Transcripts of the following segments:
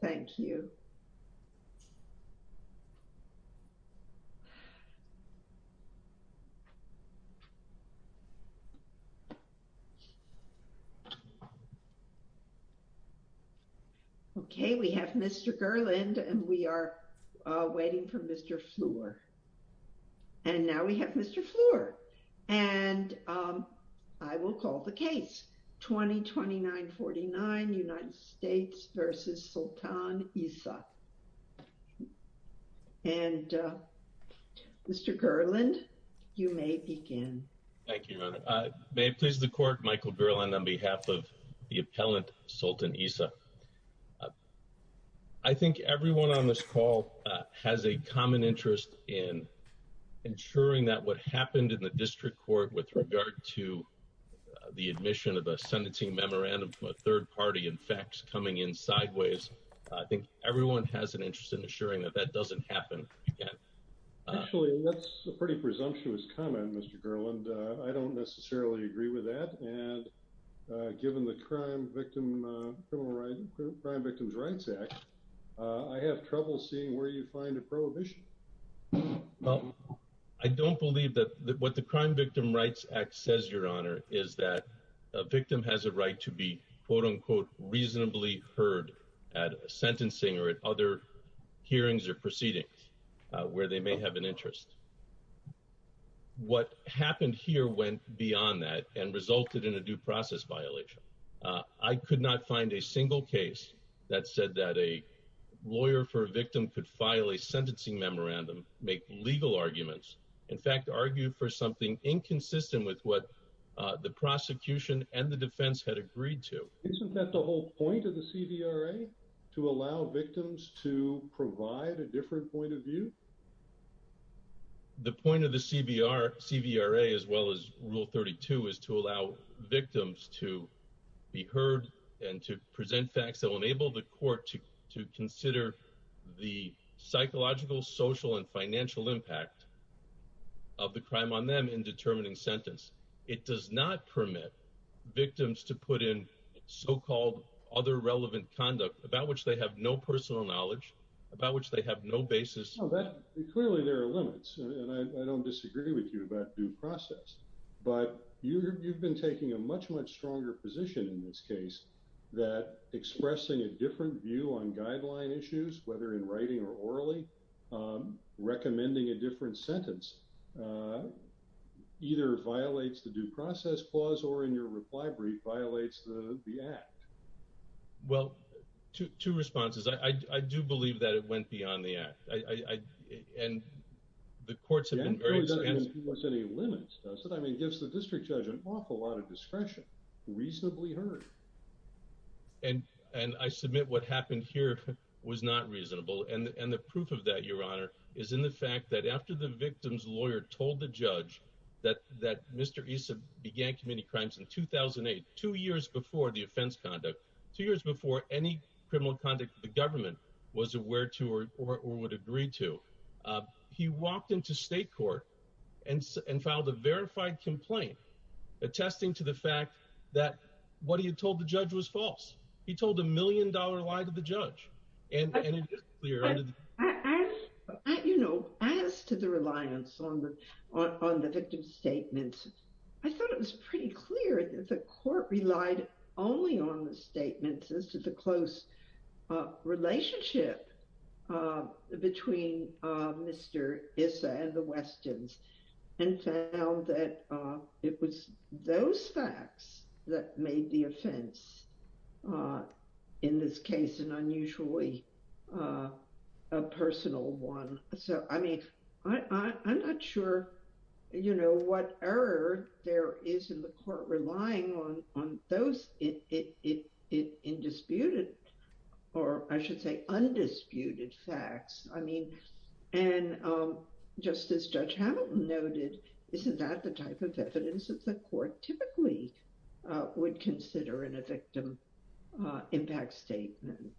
Thank you Okay, we have mr. Gerland and we are waiting for mr. Floor and now we have mr. Floor and I will call the case 2029 49 United States versus Sultan Issa and Mr. Gerland you may begin. Thank you. May it please the court Michael Berlin on behalf of the appellant Sultan Issa I Think everyone on this call has a common interest in ensuring that what happened in the district court with regard to The admission of a Senate team memorandum from a third party in facts coming in sideways I think everyone has an interest in assuring that that doesn't happen I have trouble seeing where you find a prohibition Well, I don't believe that what the Crime Victim Rights Act says your honor is that a victim has a right to be quote-unquote reasonably heard at sentencing or at other hearings or proceedings Where they may have an interest? What happened here went beyond that and resulted in a due process violation I could not find a single case that said that a Lawyer for a victim could file a sentencing memorandum make legal arguments. In fact argue for something inconsistent with what? The prosecution and the defense had agreed to isn't that the whole point of the CVRA to allow victims to? provide a different point of view The point of the CVR CVRA as well as rule 32 is to allow victims to Be heard and to present facts that will enable the court to consider the psychological social and financial impact of The crime on them in determining sentence. It does not permit Victims to put in so-called other relevant conduct about which they have no personal knowledge about which they have no basis Clearly there are limits and I don't disagree with you about due process But you've been taking a much much stronger position in this case that Expressing a different view on guideline issues whether in writing or orally recommending a different sentence Either violates the due process clause or in your reply brief violates the the act Well two responses I I do believe that it went beyond the act I and the courts have And and I submit what happened here was not reasonable and and the proof of that your honor is in the fact that after the Victim's lawyer told the judge that that mr Began committing crimes in 2008 two years before the offense conduct two years before any criminal conduct The government was aware to or would agree to He walked into state court and and filed a verified complaint Attesting to the fact that what he had told the judge was false. He told a million-dollar lie to the judge and You know I thought it was pretty clear that the court relied only on the statements as to the close Relationship between Mr. Issa and the Weston's and found that it was those facts that made the offense in this case an unusually a Personal one. So I mean, I'm not sure You know what error there is in the court relying on on those it Indisputed or I should say undisputed facts, I mean and Justice judge Hamilton noted. Isn't that the type of evidence that the court typically? Would consider in a victim impact statement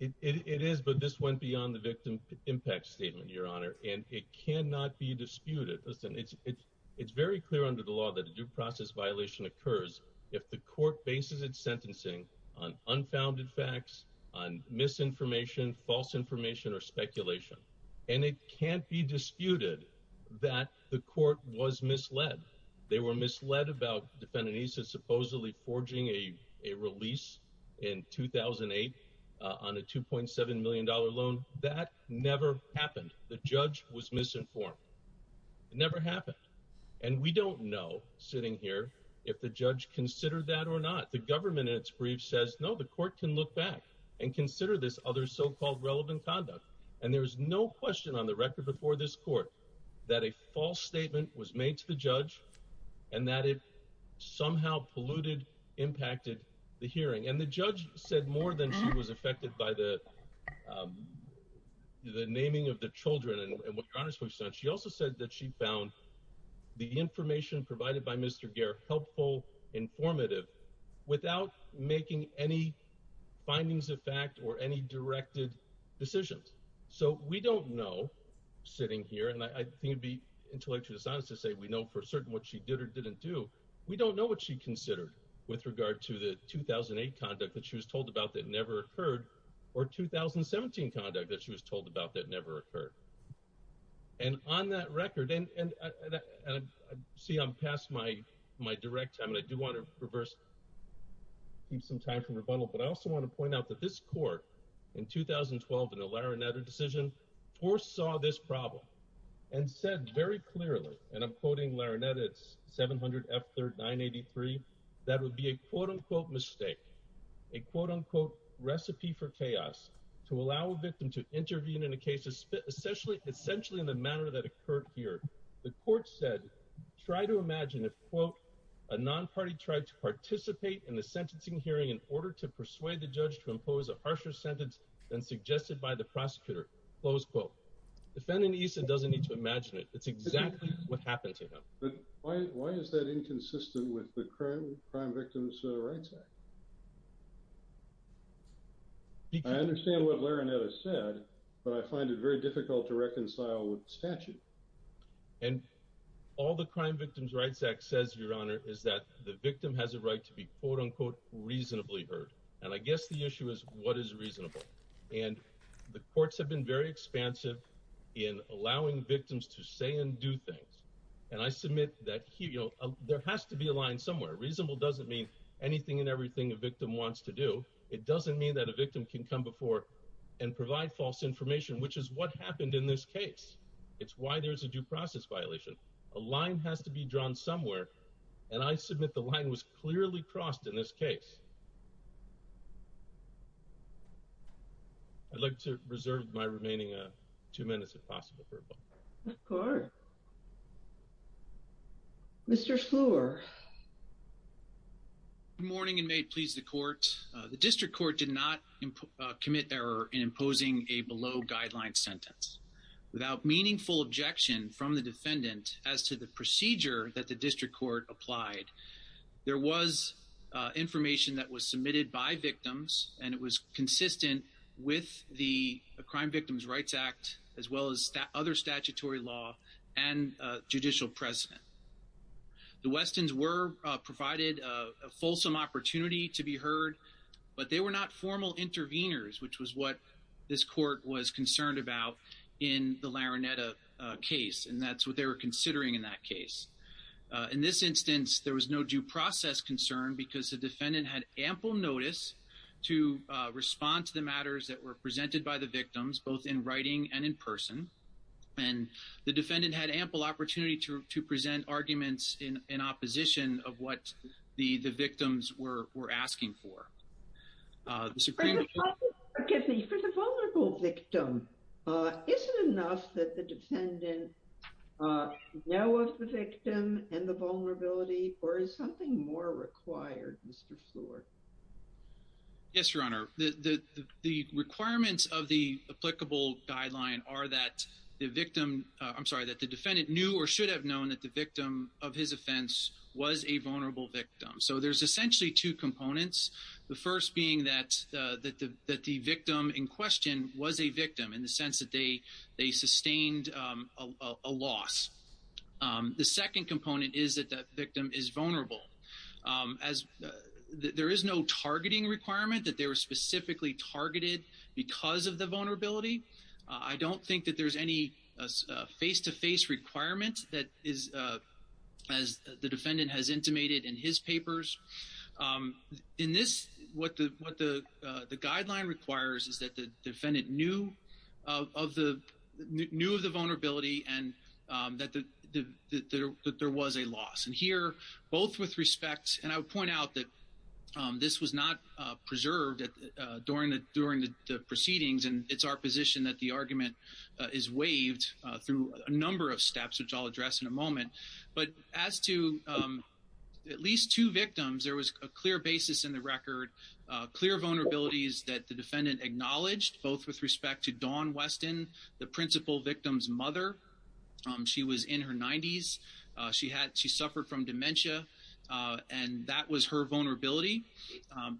It is but this went beyond the victim impact statement your honor and it cannot be disputed listen It's it's it's very clear under the law that a due process violation occurs if the court bases its sentencing on unfounded facts on misinformation false information or speculation and it can't be disputed that The court was misled. They were misled about defending. He said supposedly forging a release in 2008 on a 2.7 million dollar loan that never happened. The judge was misinformed It never happened and we don't know sitting here if the judge considered that or not the government It's brief says no the court can look back and consider this other so-called relevant conduct and there was no question on the record before this court that a false statement was made to the judge and that it somehow polluted Impacted the hearing and the judge said more than she was affected by the The naming of the children and what honors we've said she also said that she found The information provided by mr. Gere helpful informative without making any findings of fact or any directed decisions So we don't know sitting here and I think it'd be intellectually dishonest to say we know for certain what she did or didn't do we don't know what she considered with regard to the 2008 conduct that she was told about that never occurred or 2017 conduct that she was told about that never occurred and on that record and See, I'm past my my direct time and I do want to reverse Keep some time from rebuttal, but I also want to point out that this court in 2012 in a laranetta decision foresaw this problem and said very clearly and I'm quoting laranet 700 That would be a quote-unquote mistake a quote-unquote Recipe for chaos to allow a victim to intervene in a case to spit essentially essentially in the manner that occurred here the court said try to imagine if quote a Non-party tried to participate in the sentencing hearing in order to persuade the judge to impose a harsher sentence than suggested by the prosecutor Close quote defending ESA doesn't need to imagine it. It's exactly what happened to him Why is that inconsistent with the current Crime Victims Rights Act? I understand what laranet has said, but I find it very difficult to reconcile with statute and All the Crime Victims Rights Act says your honor is that the victim has a right to be quote-unquote Reasonably hurt and I guess the issue is what is reasonable and the courts have been very expansive In allowing victims to say and do things and I submit that he you know There has to be a line somewhere reasonable doesn't mean anything and everything a victim wants to do It doesn't mean that a victim can come before and provide false information, which is what happened in this case It's why there's a due process violation a line has to be drawn somewhere and I submit the line was clearly crossed in this case I'd like to reserve my remaining two minutes if possible Mr. Floor Good morning, and may it please the court the district court did not Commit error in imposing a below-guideline sentence without meaningful objection from the defendant as to the procedure That the district court applied there was Information that was submitted by victims and it was consistent with the Crime Victims Rights Act as well as other statutory law and judicial precedent The Westin's were provided a fulsome opportunity to be heard, but they were not formal interveners Which was what this court was concerned about in the larinetta case, and that's what they were considering in that case In this instance, there was no due process concern because the defendant had ample notice to respond to the matters that were presented by the victims both in writing and in person and The defendant had ample opportunity to present arguments in in opposition of what the the victims were were asking for Victim Vulnerability or is something more required. Mr. Floor Yes, your honor the the requirements of the applicable guideline are that the victim? I'm sorry that the defendant knew or should have known that the victim of his offense was a vulnerable victim So there's essentially two components the first being that That the that the victim in question was a victim in the sense that they they sustained a loss The second component is that that victim is vulnerable as There is no targeting requirement that they were specifically targeted because of the vulnerability. I don't think that there's any face-to-face requirements that is As the defendant has intimated in his papers in this what the what the the guideline requires is that the defendant knew of the Knew of the vulnerability and that the the that there was a loss and here both with respect and I would point out that This was not preserved at during the during the proceedings and it's our position that the argument Is waived through a number of steps, which i'll address in a moment, but as to um At least two victims there was a clear basis in the record Uh clear vulnerabilities that the defendant acknowledged both with respect to dawn weston the principal victim's mother She was in her 90s She had she suffered from dementia And that was her vulnerability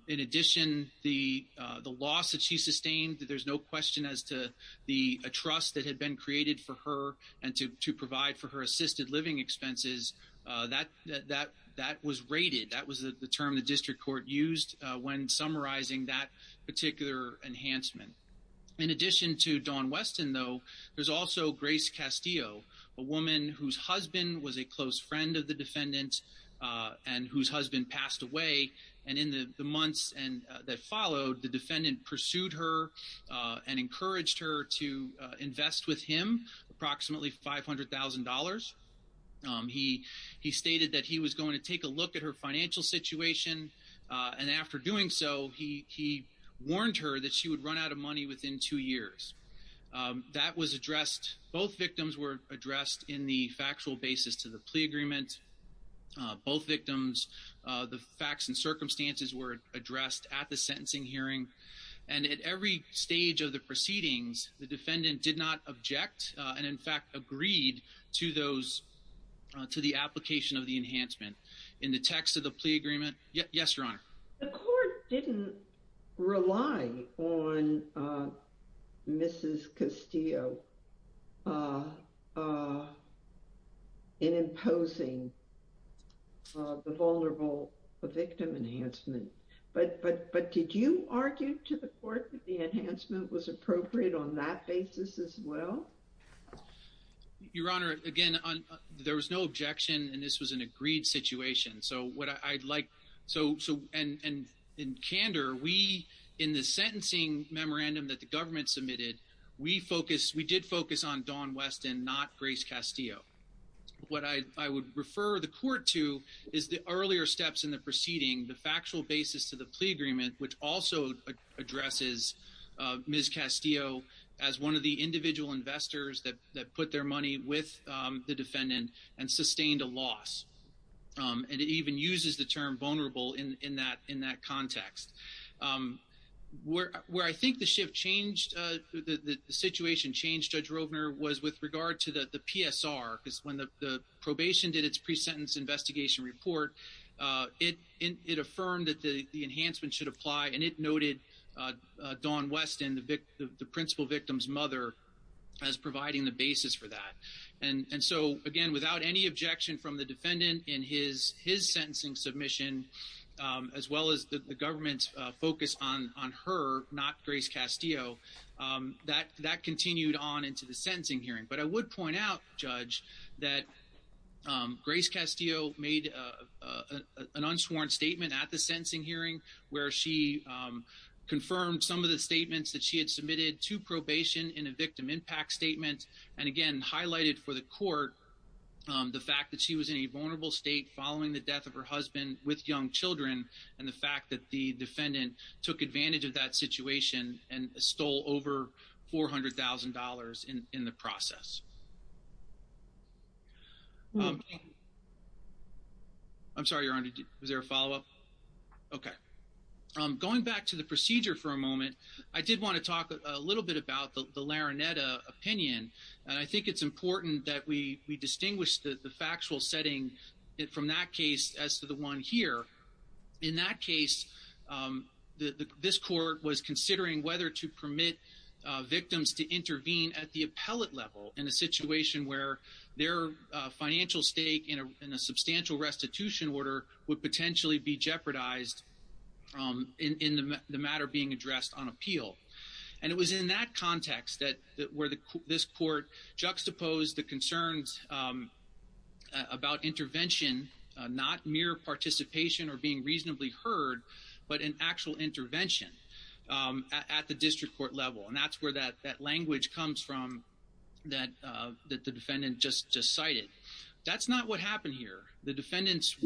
in addition the uh, the loss that she sustained that there's no question as to The a trust that had been created for her and to to provide for her assisted living expenses Uh that that that was rated that was the term the district court used when summarizing that particular enhancement In addition to dawn weston though. There's also grace castillo a woman whose husband was a close friend of the defendant Uh, and whose husband passed away and in the the months and that followed the defendant pursued her Uh and encouraged her to invest with him approximately five hundred thousand dollars um, he he stated that he was going to take a look at her financial situation, uh, and after doing so he Warned her that she would run out of money within two years Um that was addressed both victims were addressed in the factual basis to the plea agreement uh, both victims, uh, the facts and circumstances were addressed at the sentencing hearing And at every stage of the proceedings the defendant did not object and in fact agreed to those To the application of the enhancement in the text of the plea agreement. Yes, your honor the court didn't rely on uh Mrs. Castillo uh, uh In imposing Uh the vulnerable the victim enhancement But but but did you argue to the court that the enhancement was appropriate on that basis as well? Your honor again on there was no objection and this was an agreed situation. So what i'd like so so and and Candor we in the sentencing memorandum that the government submitted we focused we did focus on dawn weston not grace castillo What I I would refer the court to is the earlier steps in the proceeding the factual basis to the plea agreement which also addresses Uh, ms. Castillo as one of the individual investors that that put their money with um, the defendant and sustained a loss Um, and it even uses the term vulnerable in in that in that context um Where where I think the shift changed? The the situation changed judge rovner was with regard to the the psr because when the the probation did its pre-sentence investigation report Uh it it affirmed that the the enhancement should apply and it noted Uh, don weston the vic the principal victim's mother As providing the basis for that and and so again without any objection from the defendant in his his sentencing submission Um as well as the government's focus on on her not grace castillo um that that continued on into the sentencing hearing, but I would point out judge that um, grace castillo made a an unsworn statement at the sentencing hearing where she Confirmed some of the statements that she had submitted to probation in a victim impact statement and again highlighted for the court Um the fact that she was in a vulnerable state following the death of her husband with young children And the fact that the defendant took advantage of that situation and stole over $400,000 in in the process I'm sorry, you're under is there a follow-up? Okay Um going back to the procedure for a moment. I did want to talk a little bit about the larinetta opinion And I think it's important that we we distinguish the the factual setting From that case as to the one here in that case um the this court was considering whether to permit uh victims to intervene at the appellate level in a situation where Their uh financial stake in a in a substantial restitution order would potentially be jeopardized Um in in the matter being addressed on appeal And it was in that context that that where the this court juxtaposed the concerns. Um about intervention Not mere participation or being reasonably heard but an actual intervention um at the district court level and that's where that that language comes from That uh that the defendant just just cited that's not what happened here the defendants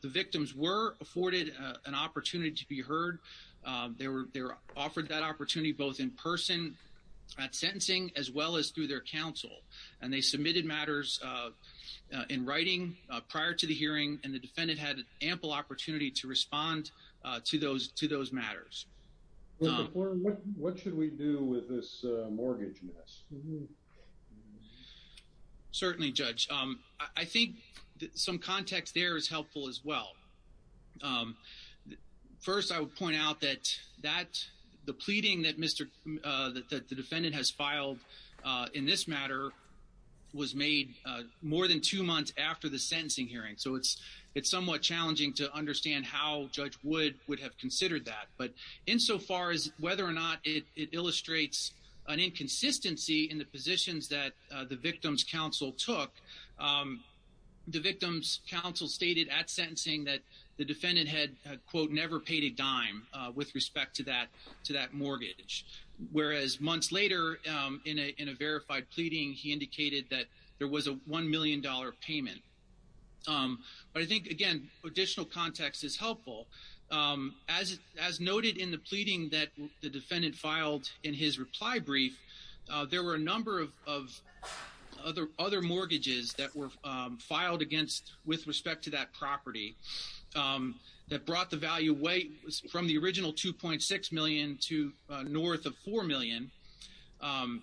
The victims were afforded an opportunity to be heard Um, they were they were offered that opportunity both in person At sentencing as well as through their counsel and they submitted matters In writing prior to the hearing and the defendant had ample opportunity to respond to those to those matters What should we do with this mortgage miss Um Certainly judge, um, I think some context there is helpful as well um First I would point out that that the pleading that mr. Uh that the defendant has filed, uh in this matter was made uh more than two months after the sentencing hearing so it's It's somewhat challenging to understand how judge wood would have considered that but insofar as whether or not it illustrates An inconsistency in the positions that the victim's counsel took The victim's counsel stated at sentencing that the defendant had quote never paid a dime with respect to that to that mortgage Whereas months later, um in a in a verified pleading he indicated that there was a 1 million dollar payment Um, but I think again additional context is helpful Um as as noted in the pleading that the defendant filed in his reply brief, uh, there were a number of of other other mortgages that were filed against with respect to that property Um that brought the value away from the original 2.6 million to north of 4 million um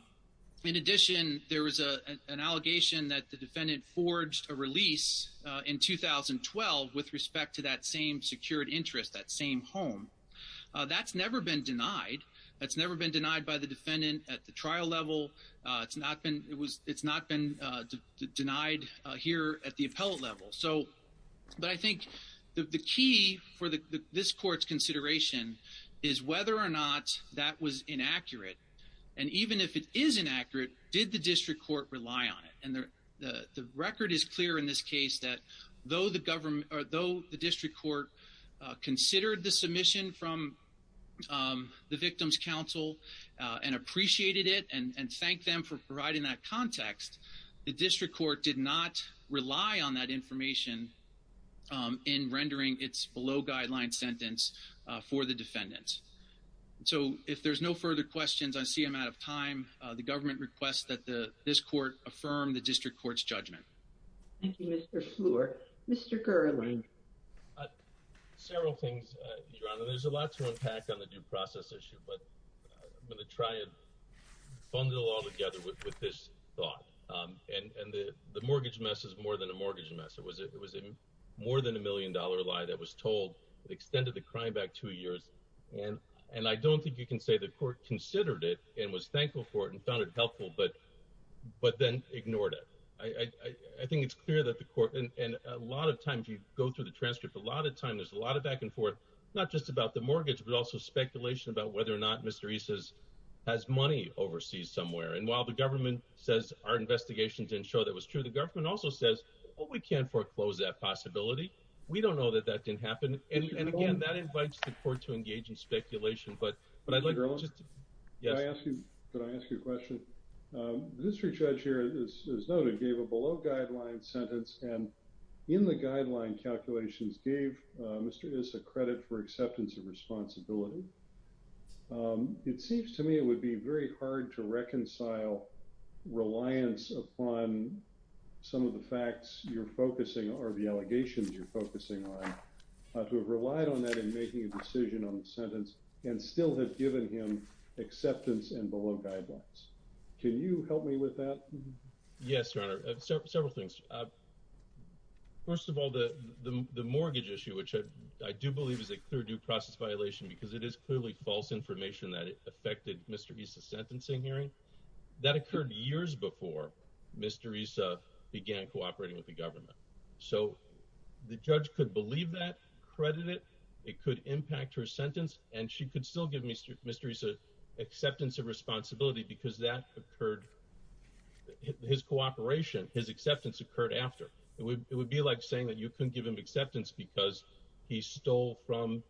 In addition, there was a an allegation that the defendant forged a release In 2012 with respect to that same secured interest that same home That's never been denied. That's never been denied by the defendant at the trial level. Uh, it's not been it was it's not been denied, uh here at the appellate level, so But I think the the key for the this court's consideration Is whether or not that was inaccurate? And even if it is inaccurate did the district court rely on it and the The the record is clear in this case that though the government or though the district court uh considered the submission from um the victim's counsel And appreciated it and and thanked them for providing that context the district court did not rely on that information Um in rendering its below guideline sentence, uh for the defendants So if there's no further questions, I see i'm out of time, uh, the government requests that the this court affirm the district court's judgment Thank you. Mr. Fleur. Mr. Gerling Several things your honor. There's a lot to unpack on the due process issue, but i'm going to try and Fund it all together with this thought. Um, and and the the mortgage mess is more than a mortgage mess It was it was a more than a million dollar lie that was told it extended the crime back two years and and I don't think you can say the court considered it and was thankful for it and found it helpful, but but then ignored it I I I think it's clear that the court and a lot of times you go through the transcript a lot of time There's a lot of back and forth not just about the mortgage but also speculation about whether or not. Mr Isis has money overseas somewhere and while the government says our investigation didn't show that was true The government also says oh we can't foreclose that possibility We don't know that that didn't happen and again that invites the court to engage in speculation, but but i'd like to Yes, I ask you. Could I ask you a question? um, the district judge here is noted gave a below guideline sentence and In the guideline calculations gave uh, mr. Isis a credit for acceptance of responsibility Um, it seems to me it would be very hard to reconcile reliance upon Some of the facts you're focusing or the allegations you're focusing on Uh to have relied on that in making a decision on the sentence and still have given him acceptance and below guidelines Can you help me with that? Yes, your honor several things First of all the the mortgage issue which I do believe is a clear due process violation because it is clearly false information that Affected mr. Isis sentencing hearing That occurred years before Mr. Isis began cooperating with the government. So The judge could believe that credit it it could impact her sentence and she could still give mr. Isis acceptance of responsibility because that occurred His cooperation his acceptance occurred after it would it would be like saying that you couldn't give him acceptance because he stole from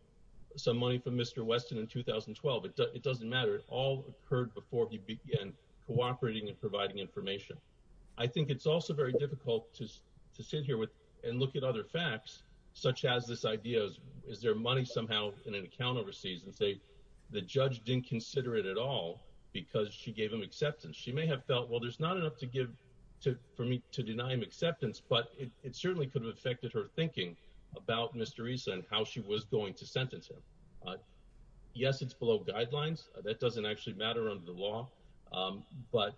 Some money from mr. Weston in 2012. It doesn't matter. It all occurred before he began cooperating and providing information I think it's also very difficult to to sit here with and look at other facts Such as this idea is is there money somehow in an account overseas and say the judge didn't consider it at all Because she gave him acceptance. She may have felt well There's not enough to give to for me to deny him acceptance, but it certainly could have affected her thinking About mr. Issa and how she was going to sentence him Yes, it's below guidelines. That doesn't actually matter under the law um, but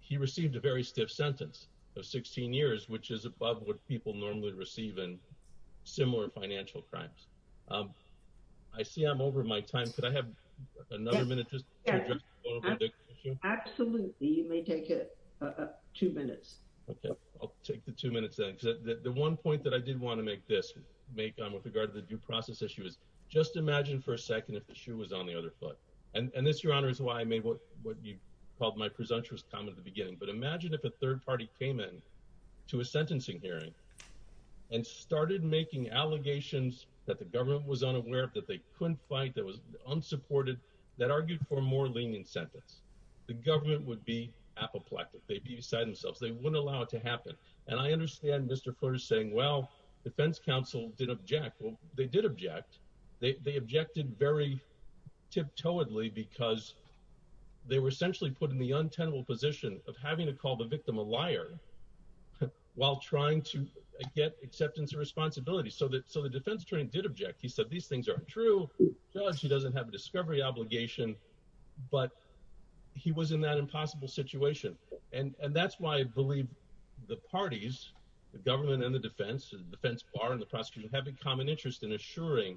He received a very stiff sentence of 16 years, which is above what people normally receive in similar financial crimes, um I see i'm over my time. Could I have another minute? Absolutely, you may take it uh two minutes Okay I'll take the two minutes then because the one point that I did want to make this Make on with regard to the due process issue is just imagine for a second if the shoe was on the other foot And and this your honor is why I made what what you called my presumptuous comment at the beginning But imagine if a third party came in to a sentencing hearing And started making allegations that the government was unaware that they couldn't fight that was unsupported That argued for a more lenient sentence the government would be apoplectic. They'd be beside themselves. They wouldn't allow it to happen And I understand. Mr. Flutter saying well defense council did object. Well, they did object they objected very Tiptoeedly because They were essentially put in the untenable position of having to call the victim a liar while trying to Get acceptance and responsibility so that so the defense attorney did object. He said these things aren't true Judge, he doesn't have a discovery obligation but He was in that impossible situation And and that's why I believe the parties The government and the defense the defense bar and the prosecution have a common interest in assuring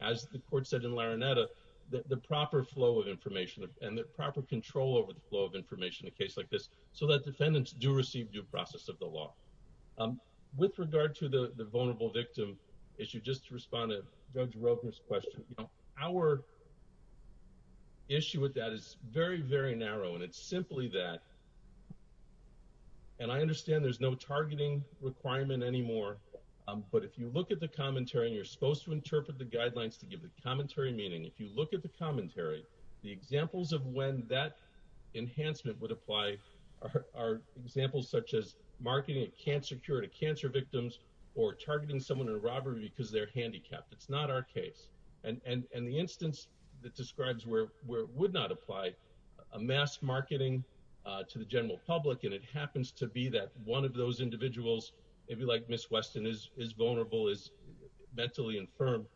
As the court said in larinetta The proper flow of information and the proper control over the flow of information a case like this So that defendants do receive due process of the law um with regard to the the vulnerable victim issue just to respond to judge rogan's question, you know our Issue with that is very very narrow and it's simply that Um And I understand there's no targeting requirement anymore But if you look at the commentary and you're supposed to interpret the guidelines to give the commentary meaning if you look at the commentary the examples of when that Enhancement would apply Are examples such as marketing a cancer cure to cancer victims or targeting someone in a robbery because they're handicapped It's not our case and and and the instance that describes where where it would not apply a mass marketing Uh to the general public and it happens to be that one of those individuals maybe like miss weston is is vulnerable is mentally infirm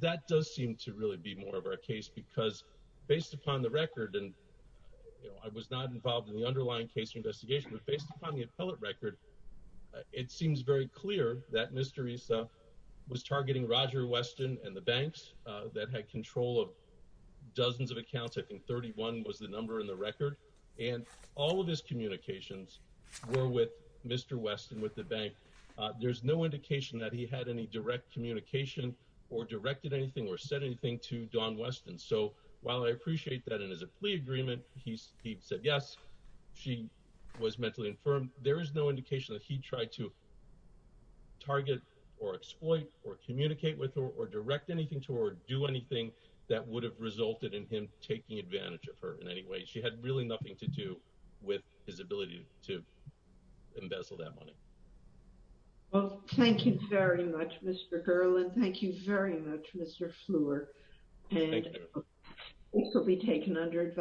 that does seem to really be more of our case because based upon the record and You know, I was not involved in the underlying case investigation, but based upon the appellate record It seems very clear that mr. Issa was targeting roger weston and the banks, uh that had control of The number in the record and all of his communications Were with mr. Weston with the bank There's no indication that he had any direct communication or directed anything or said anything to don weston So while I appreciate that in his plea agreement, he's he said yes She was mentally infirm. There is no indication that he tried to Target or exploit or communicate with or direct anything to or do anything That would have resulted in him taking advantage of her in any way she had really nothing to do with his ability to embezzle that money Well, thank you very much. Mr. Gerland. Thank you very much. Mr. Fleur and It will be taken under